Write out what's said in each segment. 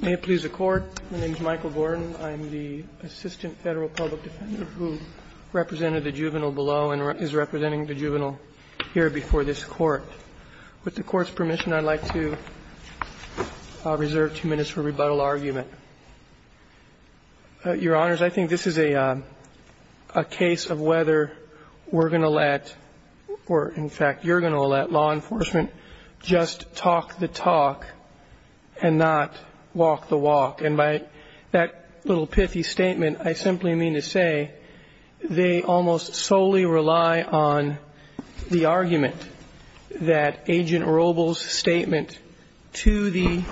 May it please the Court, my name is Michael Gordon. I am the Assistant Federal Public Defender who represented the juvenile below and is representing the juvenile here before this Court. With the Court's permission, I'd like to reserve two minutes for rebuttal argument. Your Honors, I think this is a case of whether we're going to let, or in fact you're going to let, law enforcement just talk the talk and not walk the walk. And by that little pithy statement, I simply mean to say they almost solely rely on the argument that Agent Robles' statement to the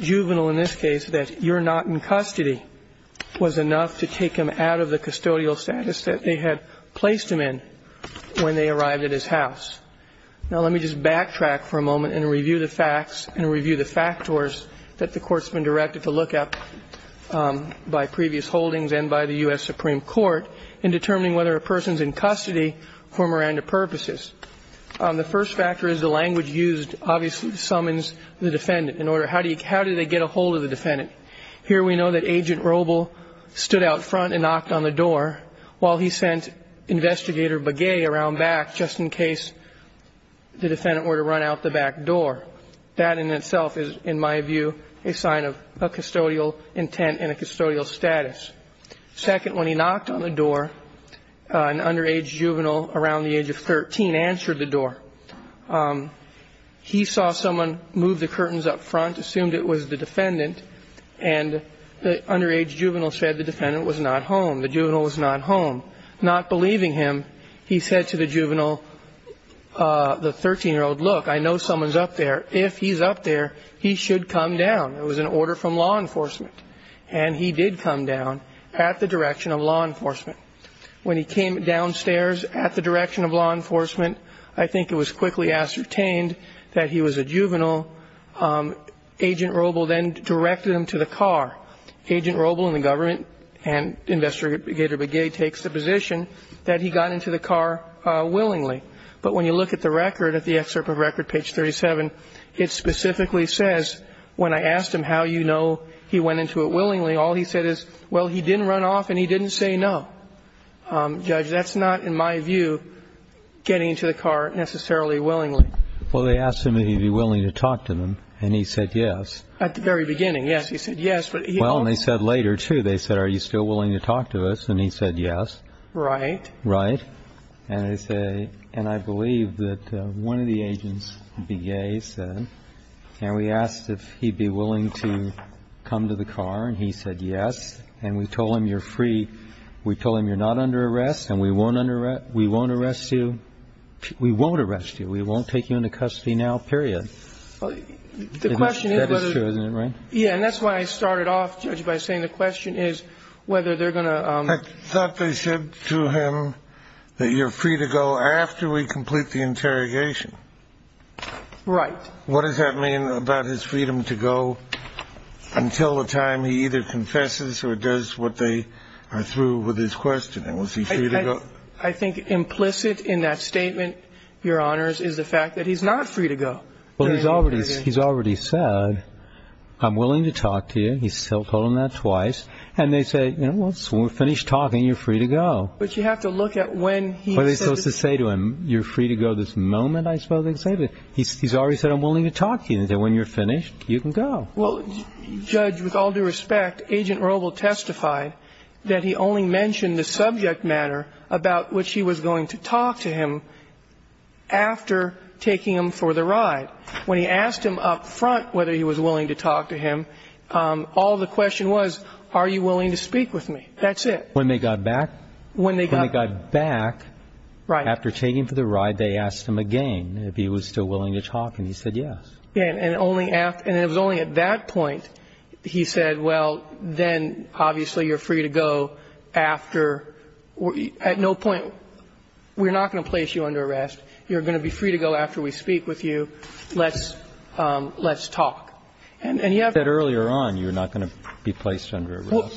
juvenile in this case that you're not in custody was enough to take him out of the custodial status that they had placed him in when they arrived at his house. Now, let me just backtrack for a moment and review the facts and review the factors that the Court's been directed to look at by previous holdings and by the U.S. Supreme Court in determining whether a person's in custody for Miranda purposes. The first factor is the language used obviously summons the defendant. In order, how do you, how do they get a hold of the defendant? Here we know that Agent Robles stood out front and knocked on the door while he sent Investigator Begay around back just in case the defendant were to run out the back door. That in itself is, in my view, a sign of a custodial intent and a custodial status. Second, when he knocked on the door, an underage juvenile around the age of 13 answered the door. He saw someone move the curtains up front, assumed it was the defendant, and the underage juvenile said the defendant was not home. The juvenile was not home. Not believing him, he said to the juvenile, the 13-year-old, look, I know someone's up there. If he's up there, he should come down. It was an order from law enforcement. And he did come down at the direction of law enforcement. When he came downstairs at the direction of law enforcement, I think it was quickly ascertained that he was a juvenile. Agent Robles then directed him to the car. Agent Robles and the government and Investigator Begay takes the position that he got into the car willingly. But when you look at the record, at the excerpt of record, page 37, it specifically says, when I asked him how you know he went into it willingly, all he said is, well, he didn't run off and he didn't say no. Judge, that's not, in my view, getting into the car necessarily willingly. Well, they asked him if he would be willing to talk to them, and he said yes. At the very beginning, yes. He said yes. Well, and they said later, too. They said, are you still willing to talk to us? And he said yes. Right. Right. And they say, and I believe that one of the agents, Begay, said, and we asked if he'd be willing to come to the car, and he said yes. And we told him you're free. We told him you're not under arrest and we won't arrest you. We won't arrest you. We won't take you into custody now, period. The question is whether. That is true, isn't it, right? Yeah, and that's why I started off, Judge, by saying the question is whether they're going to. I thought they said to him that you're free to go after we complete the interrogation. Right. What does that mean about his freedom to go until the time he either confesses or does what they are through with his questioning? Was he free to go? I think implicit in that statement, Your Honors, is the fact that he's not free to go. Well, he's already said, I'm willing to talk to you. He still told them that twice. And they say, well, when we're finished talking, you're free to go. But you have to look at when he. What are they supposed to say to him? You're free to go this moment, I suppose they say. He's already said, I'm willing to talk to you. They say, when you're finished, you can go. Well, Judge, with all due respect, Agent Roble testified that he only mentioned the subject matter about which he was going to talk to him after taking him for the ride. When he asked him up front whether he was willing to talk to him, all the question was, are you willing to speak with me? That's it. When they got back? When they got back. Right. After taking him for the ride, they asked him again if he was still willing to talk. And he said yes. Yes. And it was only at that point he said, well, then, obviously, you're free to go after at no point we're not going to place you under arrest. You're going to be free to go after we speak with you. Let's talk. And you have to. He said earlier on you're not going to be placed under arrest. Well,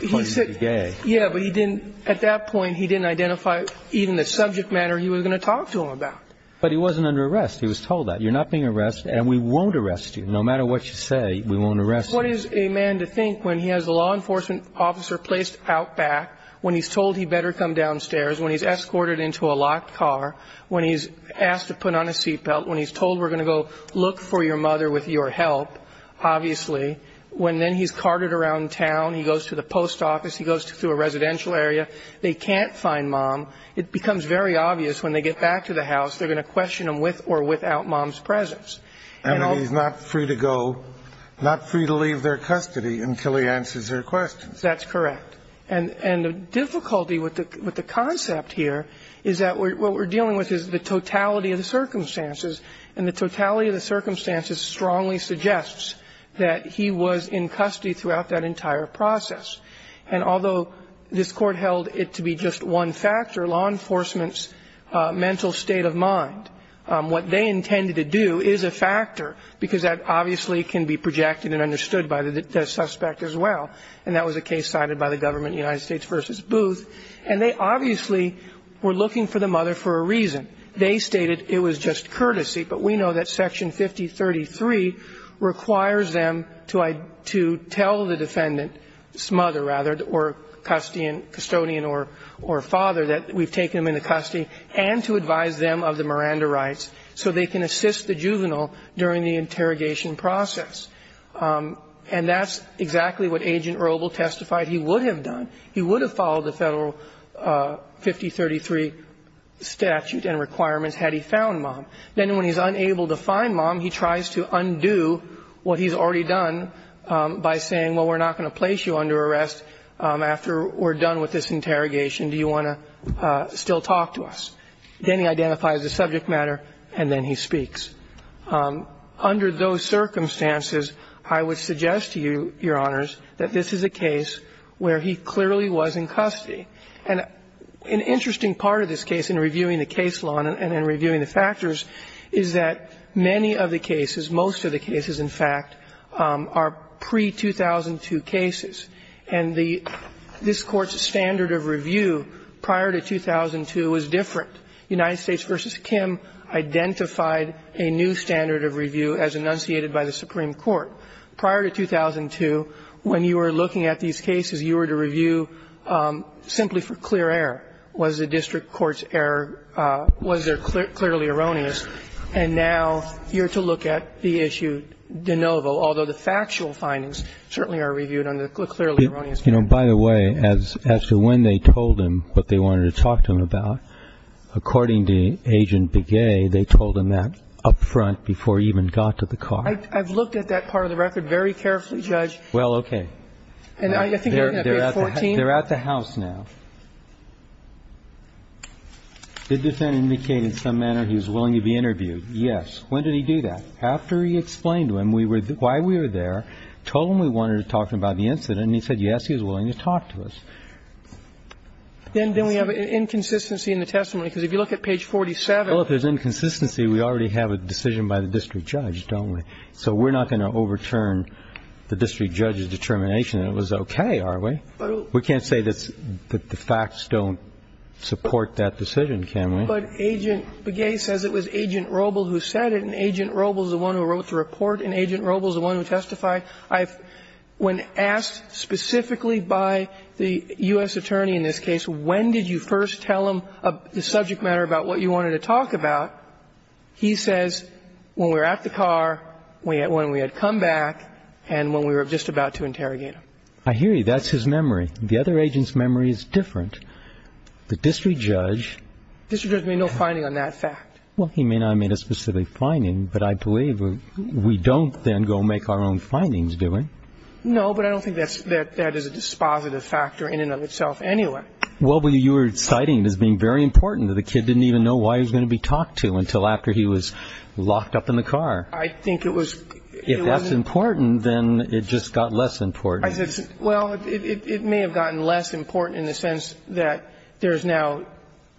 he said. You're going to be gay. Yeah, but he didn't, at that point, he didn't identify even the subject matter he was going to talk to him about. But he wasn't under arrest. He was told that. You're not being arrested and we won't arrest you. No matter what you say, we won't arrest you. What is a man to think when he has a law enforcement officer placed out back, when he's told he better come downstairs, when he's escorted into a locked car, when he's asked to put on a seat belt, when he's told we're going to go look for your mother with your help, obviously, when then he's carted around town. He goes to the post office. He goes to a residential area. They can't find mom. It becomes very obvious when they get back to the house, they're going to question him with or without mom's presence. And he's not free to go, not free to leave their custody until he answers their questions. That's correct. And the difficulty with the concept here is that what we're dealing with is the totality of the circumstances, and the totality of the circumstances strongly suggests that he was in custody throughout that entire process. And although this Court held it to be just one factor, law enforcement's mental state of mind, what they intended to do is a factor, because that obviously can be projected and understood by the suspect as well. And that was a case cited by the government, United States v. Booth. And they obviously were looking for the mother for a reason. They stated it was just courtesy, but we know that Section 5033 requires them to tell the defendant's mother, rather, or custodian or father that we've taken him into custody and to advise them of the Miranda rights so they can assist the juvenile during the interrogation process. And that's exactly what Agent Robel testified he would have done. He would have followed the Federal 5033 statute and requirements had he found mom. Then when he's unable to find mom, he tries to undo what he's already done by saying, well, we're not going to place you under arrest after we're done with this interrogation. Do you want to still talk to us? Then he identifies the subject matter, and then he speaks. Under those circumstances, I would suggest to you, Your Honors, that this is a case where he clearly was in custody. And an interesting part of this case in reviewing the case law and in reviewing the factors is that many of the cases, most of the cases, in fact, are pre-2002 cases. And this Court's standard of review prior to 2002 was different. United States v. Kim identified a new standard of review as enunciated by the Supreme Court prior to 2002. When you were looking at these cases, you were to review simply for clear error. Was the district court's error, was there clearly erroneous? And now you're to look at the issue de novo, although the factual findings certainly are reviewed under the clearly erroneous standard. You know, by the way, as to when they told him what they wanted to talk to him about, according to Agent Begay, they told him that up front before he even got to the car. I've looked at that part of the record very carefully, Judge. Well, okay. They're at the house now. Did the defendant indicate in some manner he was willing to be interviewed? Yes. When did he do that? After he explained to him why we were there, told him we wanted to talk to him about the incident, and he said, yes, he was willing to talk to us. Then we have an inconsistency in the testimony, because if you look at page 47. Well, if there's inconsistency, we already have a decision by the district judge, don't we? So we're not going to overturn the district judge's determination that it was okay, are we? We can't say that the facts don't support that decision, can we? But Agent Begay says it was Agent Robel who said it, and Agent Robel is the one who wrote the report, and Agent Robel is the one who testified. When asked specifically by the U.S. attorney in this case, when did you first tell him the subject matter about what you wanted to talk about, he says, when we were at the car, when we had come back, and when we were just about to interrogate him. I hear you. That's his memory. The other agent's memory is different. The district judge ---- The district judge made no finding on that fact. Well, he may not have made a specific finding, but I believe we don't then go make our own findings, do we? No, but I don't think that is a dispositive factor in and of itself anyway. Well, you were citing it as being very important that the kid didn't even know why he was at the car. I think it was ---- If that's important, then it just got less important. Well, it may have gotten less important in the sense that there is now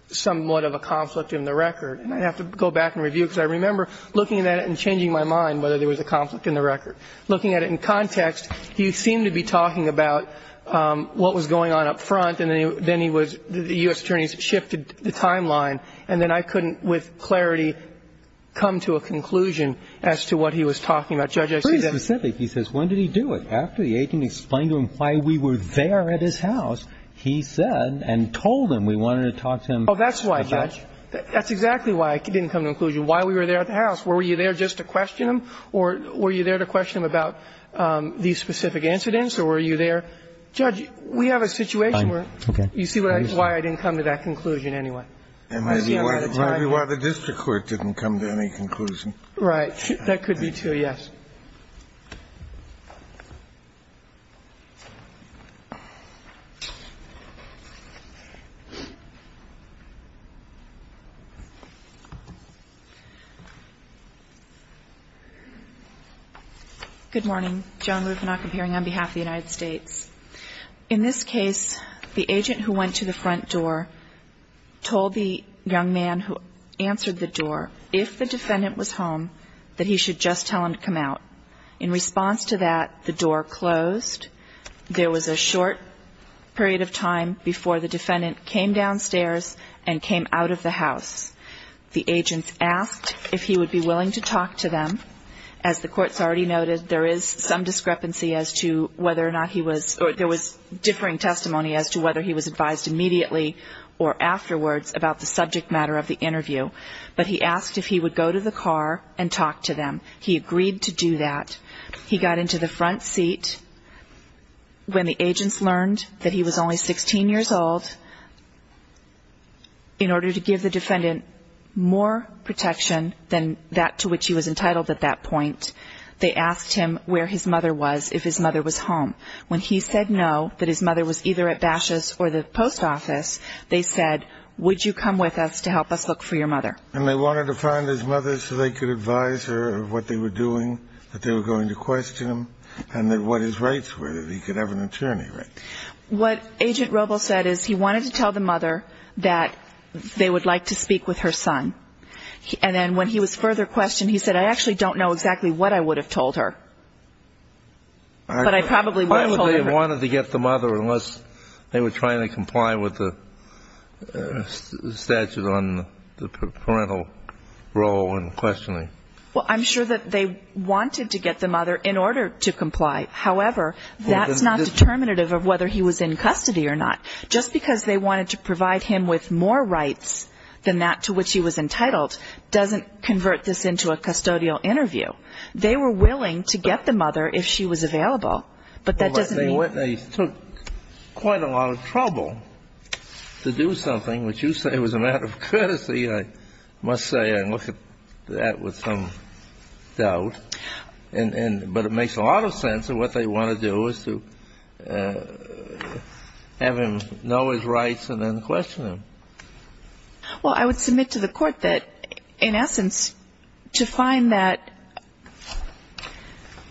somewhat of a conflict in the record. And I'd have to go back and review it, because I remember looking at it and changing my mind whether there was a conflict in the record. Looking at it in context, he seemed to be talking about what was going on up front, and then he was ---- the U.S. attorneys shifted the timeline, and then I couldn't with clarity come to a conclusion as to what he was talking about. Judge, I see that ---- Pretty specific. He says, when did he do it? After the agent explained to him why we were there at his house, he said and told him we wanted to talk to him about ---- Oh, that's why, Judge. That's exactly why I didn't come to a conclusion, why we were there at the house. Were you there just to question him, or were you there to question him about these specific incidents, or were you there ---- Judge, we have a situation where ---- Okay. You see why I didn't come to that conclusion anyway? And I see why the district court didn't come to any conclusion. Right. That could be, too, yes. Good morning. Joan Lufenach of Hearing on behalf of the United States. In this case, the agent who went to the front door told the young man who answered the door, if the defendant was home, that he should just tell him to come out. In response to that, the door closed. There was a short period of time before the defendant came downstairs and came out of the house. The agent asked if he would be willing to talk to them. As the court has already noted, there is some discrepancy as to whether or not he was ---- or there was differing testimony as to whether he was advised immediately or afterwards about the subject matter of the interview. But he asked if he would go to the car and talk to them. He agreed to do that. He got into the front seat. When the agents learned that he was only 16 years old, in order to give the defendant more protection than that to which he was entitled at that point, they asked him where his mother was, if his mother was home. When he said no, that his mother was either at Bashes or the post office, they said, would you come with us to help us look for your mother? And they wanted to find his mother so they could advise her of what they were doing, that they were going to question him, and that what his rights were, that he could have an attorney, right? What Agent Robel said is he wanted to tell the mother that they would like to speak with her son. And then when he was further questioned, he said, I actually don't know exactly what I would have told her. But I probably would have told her. They wanted to get the mother unless they were trying to comply with the statute on the parental role and questioning. Well, I'm sure that they wanted to get the mother in order to comply. However, that's not determinative of whether he was in custody or not. Just because they wanted to provide him with more rights than that to which he was entitled doesn't convert this into a custodial interview. They were willing to get the mother if she was available. But that doesn't mean they took quite a lot of trouble to do something, which you say was a matter of courtesy, I must say. I look at that with some doubt. But it makes a lot of sense of what they want to do is to have him know his rights and then question him. Well, I would submit to the Court that, in essence, to find that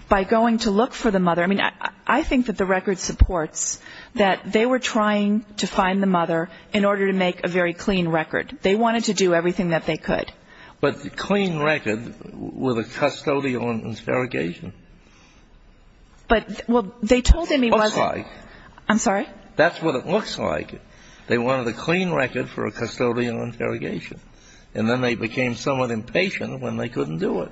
by going to look for the mother, I mean, I think that the record supports that they were trying to find the mother in order to make a very clean record. They wanted to do everything that they could. But clean record with a custodial interrogation? But, well, they told him he wasn't. Looks like. I'm sorry? That's what it looks like. They wanted a clean record for a custodial interrogation. And then they became somewhat impatient when they couldn't do it.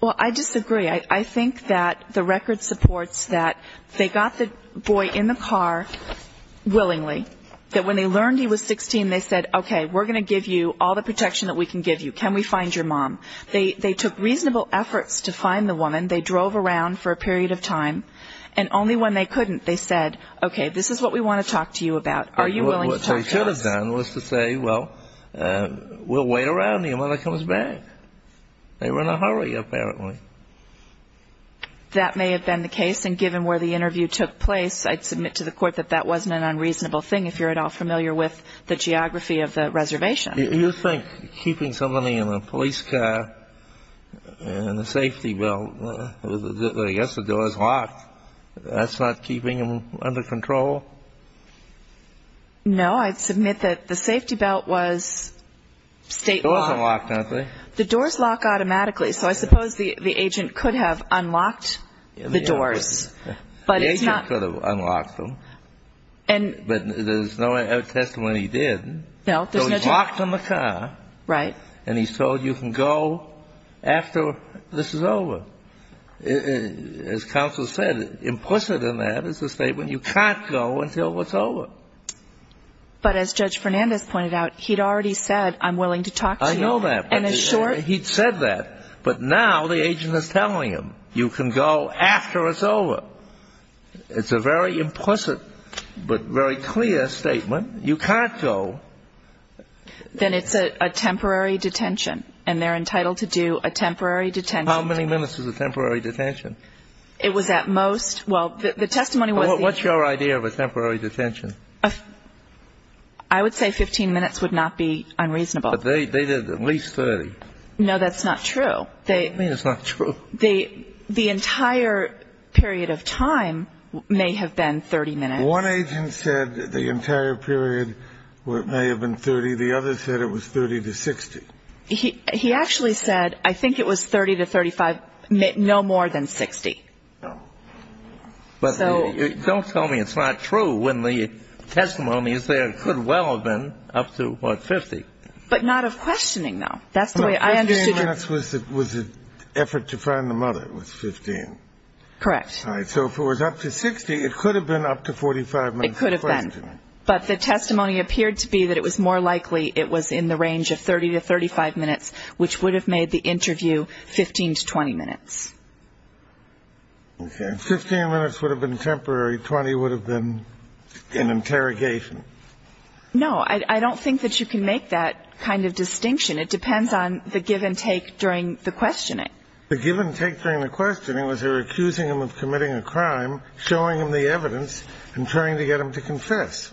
Well, I disagree. I think that the record supports that they got the boy in the car willingly, that when they learned he was 16, they said, okay, we're going to give you all the protection that we can give you. Can we find your mom? They took reasonable efforts to find the woman. They drove around for a period of time. And only when they couldn't, they said, okay, this is what we want to talk to you about. Are you willing to talk to us? What they should have done was to say, well, we'll wait around. The mother comes back. They were in a hurry, apparently. That may have been the case. And given where the interview took place, I'd submit to the Court that that wasn't an unreasonable thing, if you're at all familiar with the geography of the reservation. You think keeping somebody in a police car in a safety, well, I guess the door's locked. That's not keeping them under control? No. I'd submit that the safety belt was state-locked. The door's locked, aren't they? The door's locked automatically. So I suppose the agent could have unlocked the doors. The agent could have unlocked them. But there's no testimony he did. No, there's no testimony. So he's locked in the car. Right. And he's told you can go after this is over. As counsel said, implicit in that is a statement, you can't go until it's over. But as Judge Fernandez pointed out, he'd already said, I'm willing to talk to you. I know that. He'd said that. But now the agent is telling him, you can go after it's over. It's a very implicit but very clear statement. You can't go. Then it's a temporary detention, and they're entitled to do a temporary detention. How many minutes is a temporary detention? It was at most, well, the testimony was. What's your idea of a temporary detention? I would say 15 minutes would not be unreasonable. But they did at least 30. No, that's not true. What do you mean it's not true? The entire period of time may have been 30 minutes. One agent said the entire period may have been 30. The other said it was 30 to 60. He actually said I think it was 30 to 35, no more than 60. But don't tell me it's not true when the testimony is there. It could well have been up to, what, 50. But not of questioning, though. That's the way I understood it. 15 minutes was an effort to find the mother. It was 15. Correct. All right. So if it was up to 60, it could have been up to 45 minutes of questioning. It could have been. But the testimony appeared to be that it was more likely it was in the range of 30 to 35 minutes, which would have made the interview 15 to 20 minutes. Okay. If 15 minutes would have been temporary, 20 would have been an interrogation. No, I don't think that you can make that kind of distinction. It depends on the give and take during the questioning. The give and take during the questioning was they were accusing him of committing a crime, showing him the evidence, and trying to get him to confess.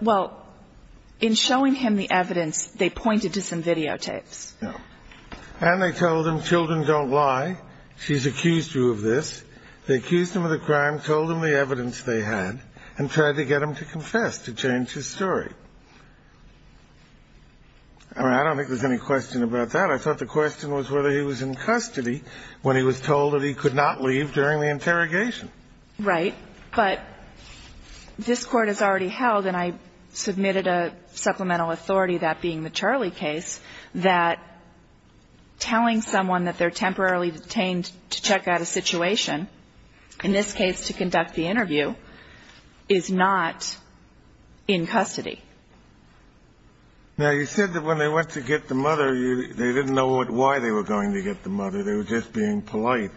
Well, in showing him the evidence, they pointed to some videotapes. And they told him, children don't lie, she's accused you of this. They accused him of the crime, told him the evidence they had, and tried to get him to confess to change his story. I don't think there's any question about that. I thought the question was whether he was in custody when he was told that he could not leave during the interrogation. Right. But this Court has already held, and I submitted a supplemental authority, that being the Charley case, that telling someone that they're temporarily detained to check out a situation, in this case to conduct the interview, is not in custody. Now, you said that when they went to get the mother, they didn't know why they were going to get the mother. They were just being polite.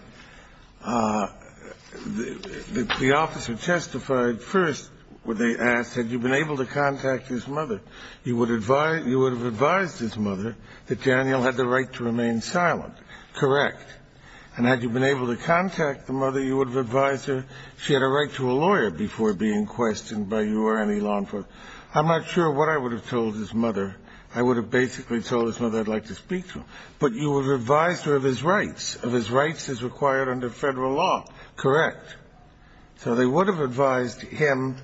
The officer testified first when they asked, had you been able to contact his mother? You would have advised his mother that Daniel had the right to remain silent. Correct. And had you been able to contact the mother, you would have advised her she had a right to a lawyer before being questioned by you or any law enforcement. I'm not sure what I would have told his mother. I would have basically told his mother I'd like to speak to him. But you would have advised her of his rights, of his rights as required under federal law. Correct. So they would have advised him,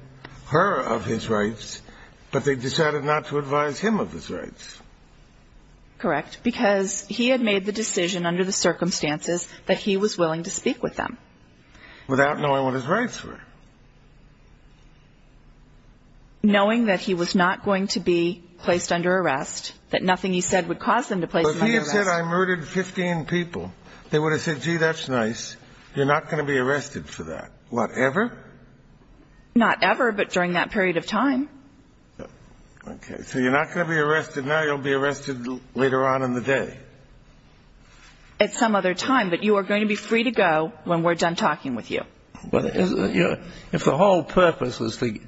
her, of his rights, but they decided not to advise him of his rights. Correct, because he had made the decision under the circumstances that he was willing to speak with them. Without knowing what his rights were. Knowing that he was not going to be placed under arrest, that nothing he said would cause him to be placed under arrest. But if he had said I murdered 15 people, they would have said, gee, that's nice. You're not going to be arrested for that. Whatever? Not ever, but during that period of time. Okay. So you're not going to be arrested now. You'll be arrested later on in the day. At some other time. But you are going to be free to go when we're done talking with you. If the whole purpose is to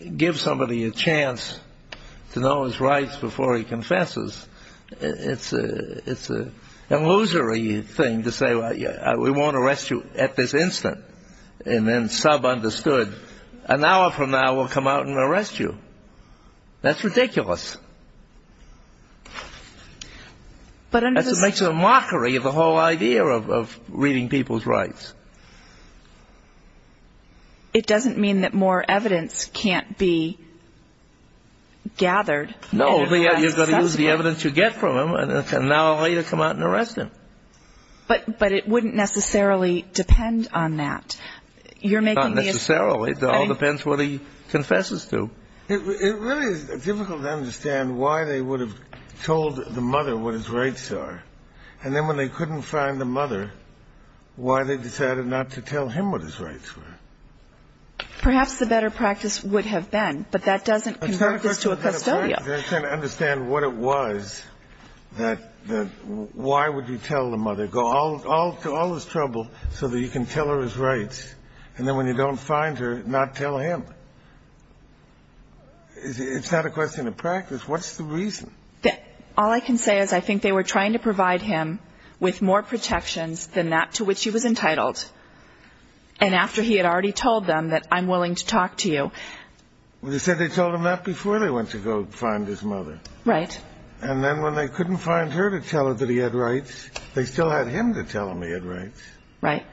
give somebody a chance to know his rights before he confesses, it's a illusory thing to say, well, we won't arrest you at this instant. And then sub-understood, an hour from now we'll come out and arrest you. That's ridiculous. That makes it a mockery of the whole idea of reading people's rights. It doesn't mean that more evidence can't be gathered. No, you're going to use the evidence you get from him and now later come out and arrest him. But it wouldn't necessarily depend on that. Not necessarily. It all depends what he confesses to. It really is difficult to understand why they would have told the mother what his rights are, and then when they couldn't find the mother, why they decided not to tell him what his rights were. Perhaps the better practice would have been, but that doesn't convert this to a custodial. They're trying to understand what it was that why would you tell the mother, go to all this trouble so that you can tell her his rights, and then when you don't find her, not tell him. It's not a question of practice. What's the reason? All I can say is I think they were trying to provide him with more protections than that to which he was entitled, and after he had already told them that I'm willing to talk to you. Well, you said they told him that before they went to go find his mother. Right. And then when they couldn't find her to tell her that he had rights, they still had him to tell him he had rights. Right.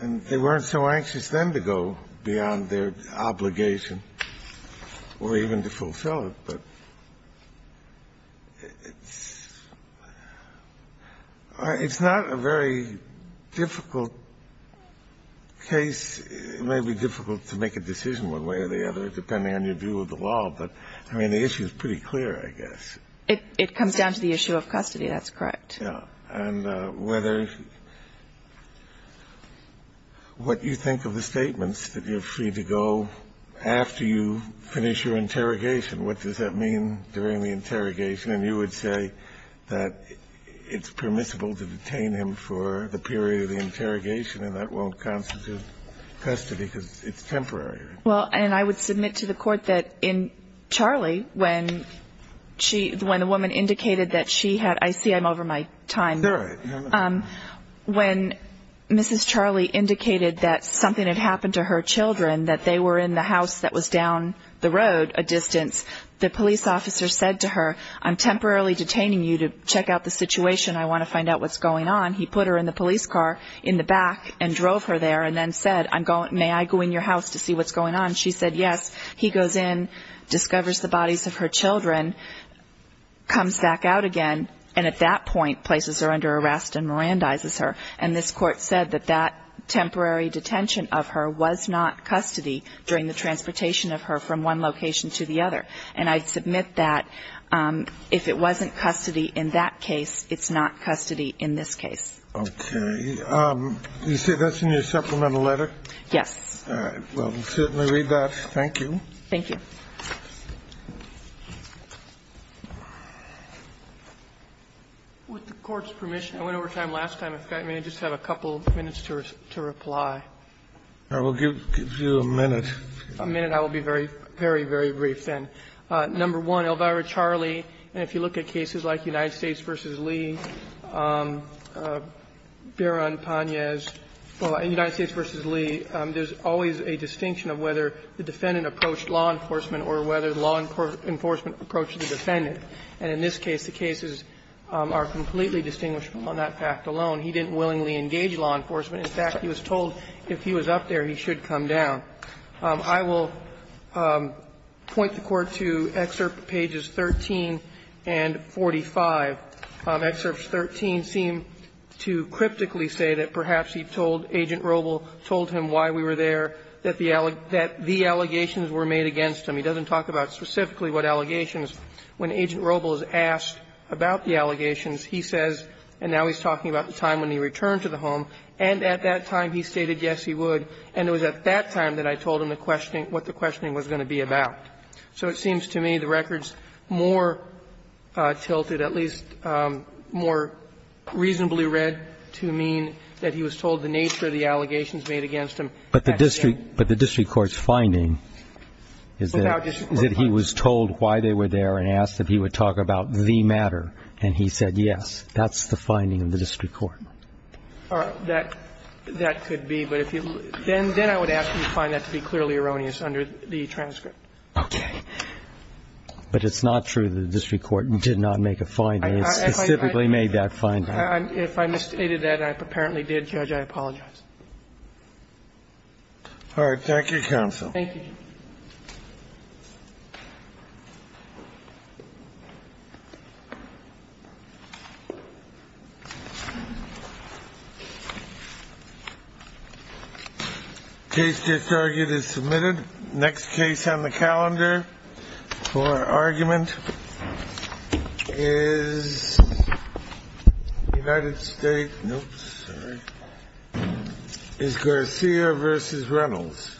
And they weren't so anxious then to go beyond their obligation or even to fulfill it. But it's not a very difficult case. It may be difficult to make a decision one way or the other, depending on your view of the law. But, I mean, the issue is pretty clear, I guess. It comes down to the issue of custody. That's correct. And whether what you think of the statements, that you're free to go after you finish your interrogation, what does that mean during the interrogation? And you would say that it's permissible to detain him for the period of the interrogation and that won't constitute custody because it's temporary. Well, and I would submit to the Court that in Charlie, when she – when the woman indicated that she had – I see I'm over my time. Sure. When Mrs. Charlie indicated that something had happened to her children, that they were in the house that was down the road a distance, the police officer said to her, I'm temporarily detaining you to check out the situation. I want to find out what's going on. He put her in the police car in the back and drove her there and then said, may I go in your house to see what's going on? And she said yes. He goes in, discovers the bodies of her children, comes back out again, and at that point places her under arrest and Mirandizes her. And this Court said that that temporary detention of her was not custody during the transportation of her from one location to the other. And I submit that if it wasn't custody in that case, it's not custody in this case. Okay. You say that's in your supplemental letter? Yes. All right. Well, we'll certainly read that. Thank you. Thank you. With the Court's permission, I went over time last time. If I may just have a couple minutes to reply. I will give you a minute. A minute. I will be very, very, very brief then. Number one, Elvira Charlie, and if you look at cases like United States v. Lee, Barron, Panez, United States v. Lee, there's always a distinction of whether the defendant approached law enforcement or whether law enforcement approached the defendant. And in this case, the cases are completely distinguishable on that fact alone. He didn't willingly engage law enforcement. In fact, he was told if he was up there, he should come down. I will point the Court to excerpt pages 13 and 45. Excerpts 13 seem to cryptically say that perhaps he told Agent Robel, told him why we were there, that the allegations were made against him. He doesn't talk about specifically what allegations. When Agent Robel is asked about the allegations, he says, and now he's talking about the time when he returned to the home, and at that time he stated yes, he would. And it was at that time that I told him the questioning, what the questioning was going to be about. So it seems to me the record's more tilted, at least more reasonably read, to mean that he was told the nature of the allegations made against him. But the district court's finding is that he was told why they were there and asked that he would talk about the matter, and he said yes. That's the finding of the district court. All right. That could be. But if you – then I would ask you to find that to be clearly erroneous under the transcript. Okay. But it's not true that the district court did not make a finding. It specifically made that finding. If I misstated that, and I apparently did, Judge, I apologize. All right. Thank you, counsel. Thank you, Judge. Case disargued is submitted. Next case on the calendar for argument is United States – nope, sorry – is Garcia versus Reynolds. Reynolds.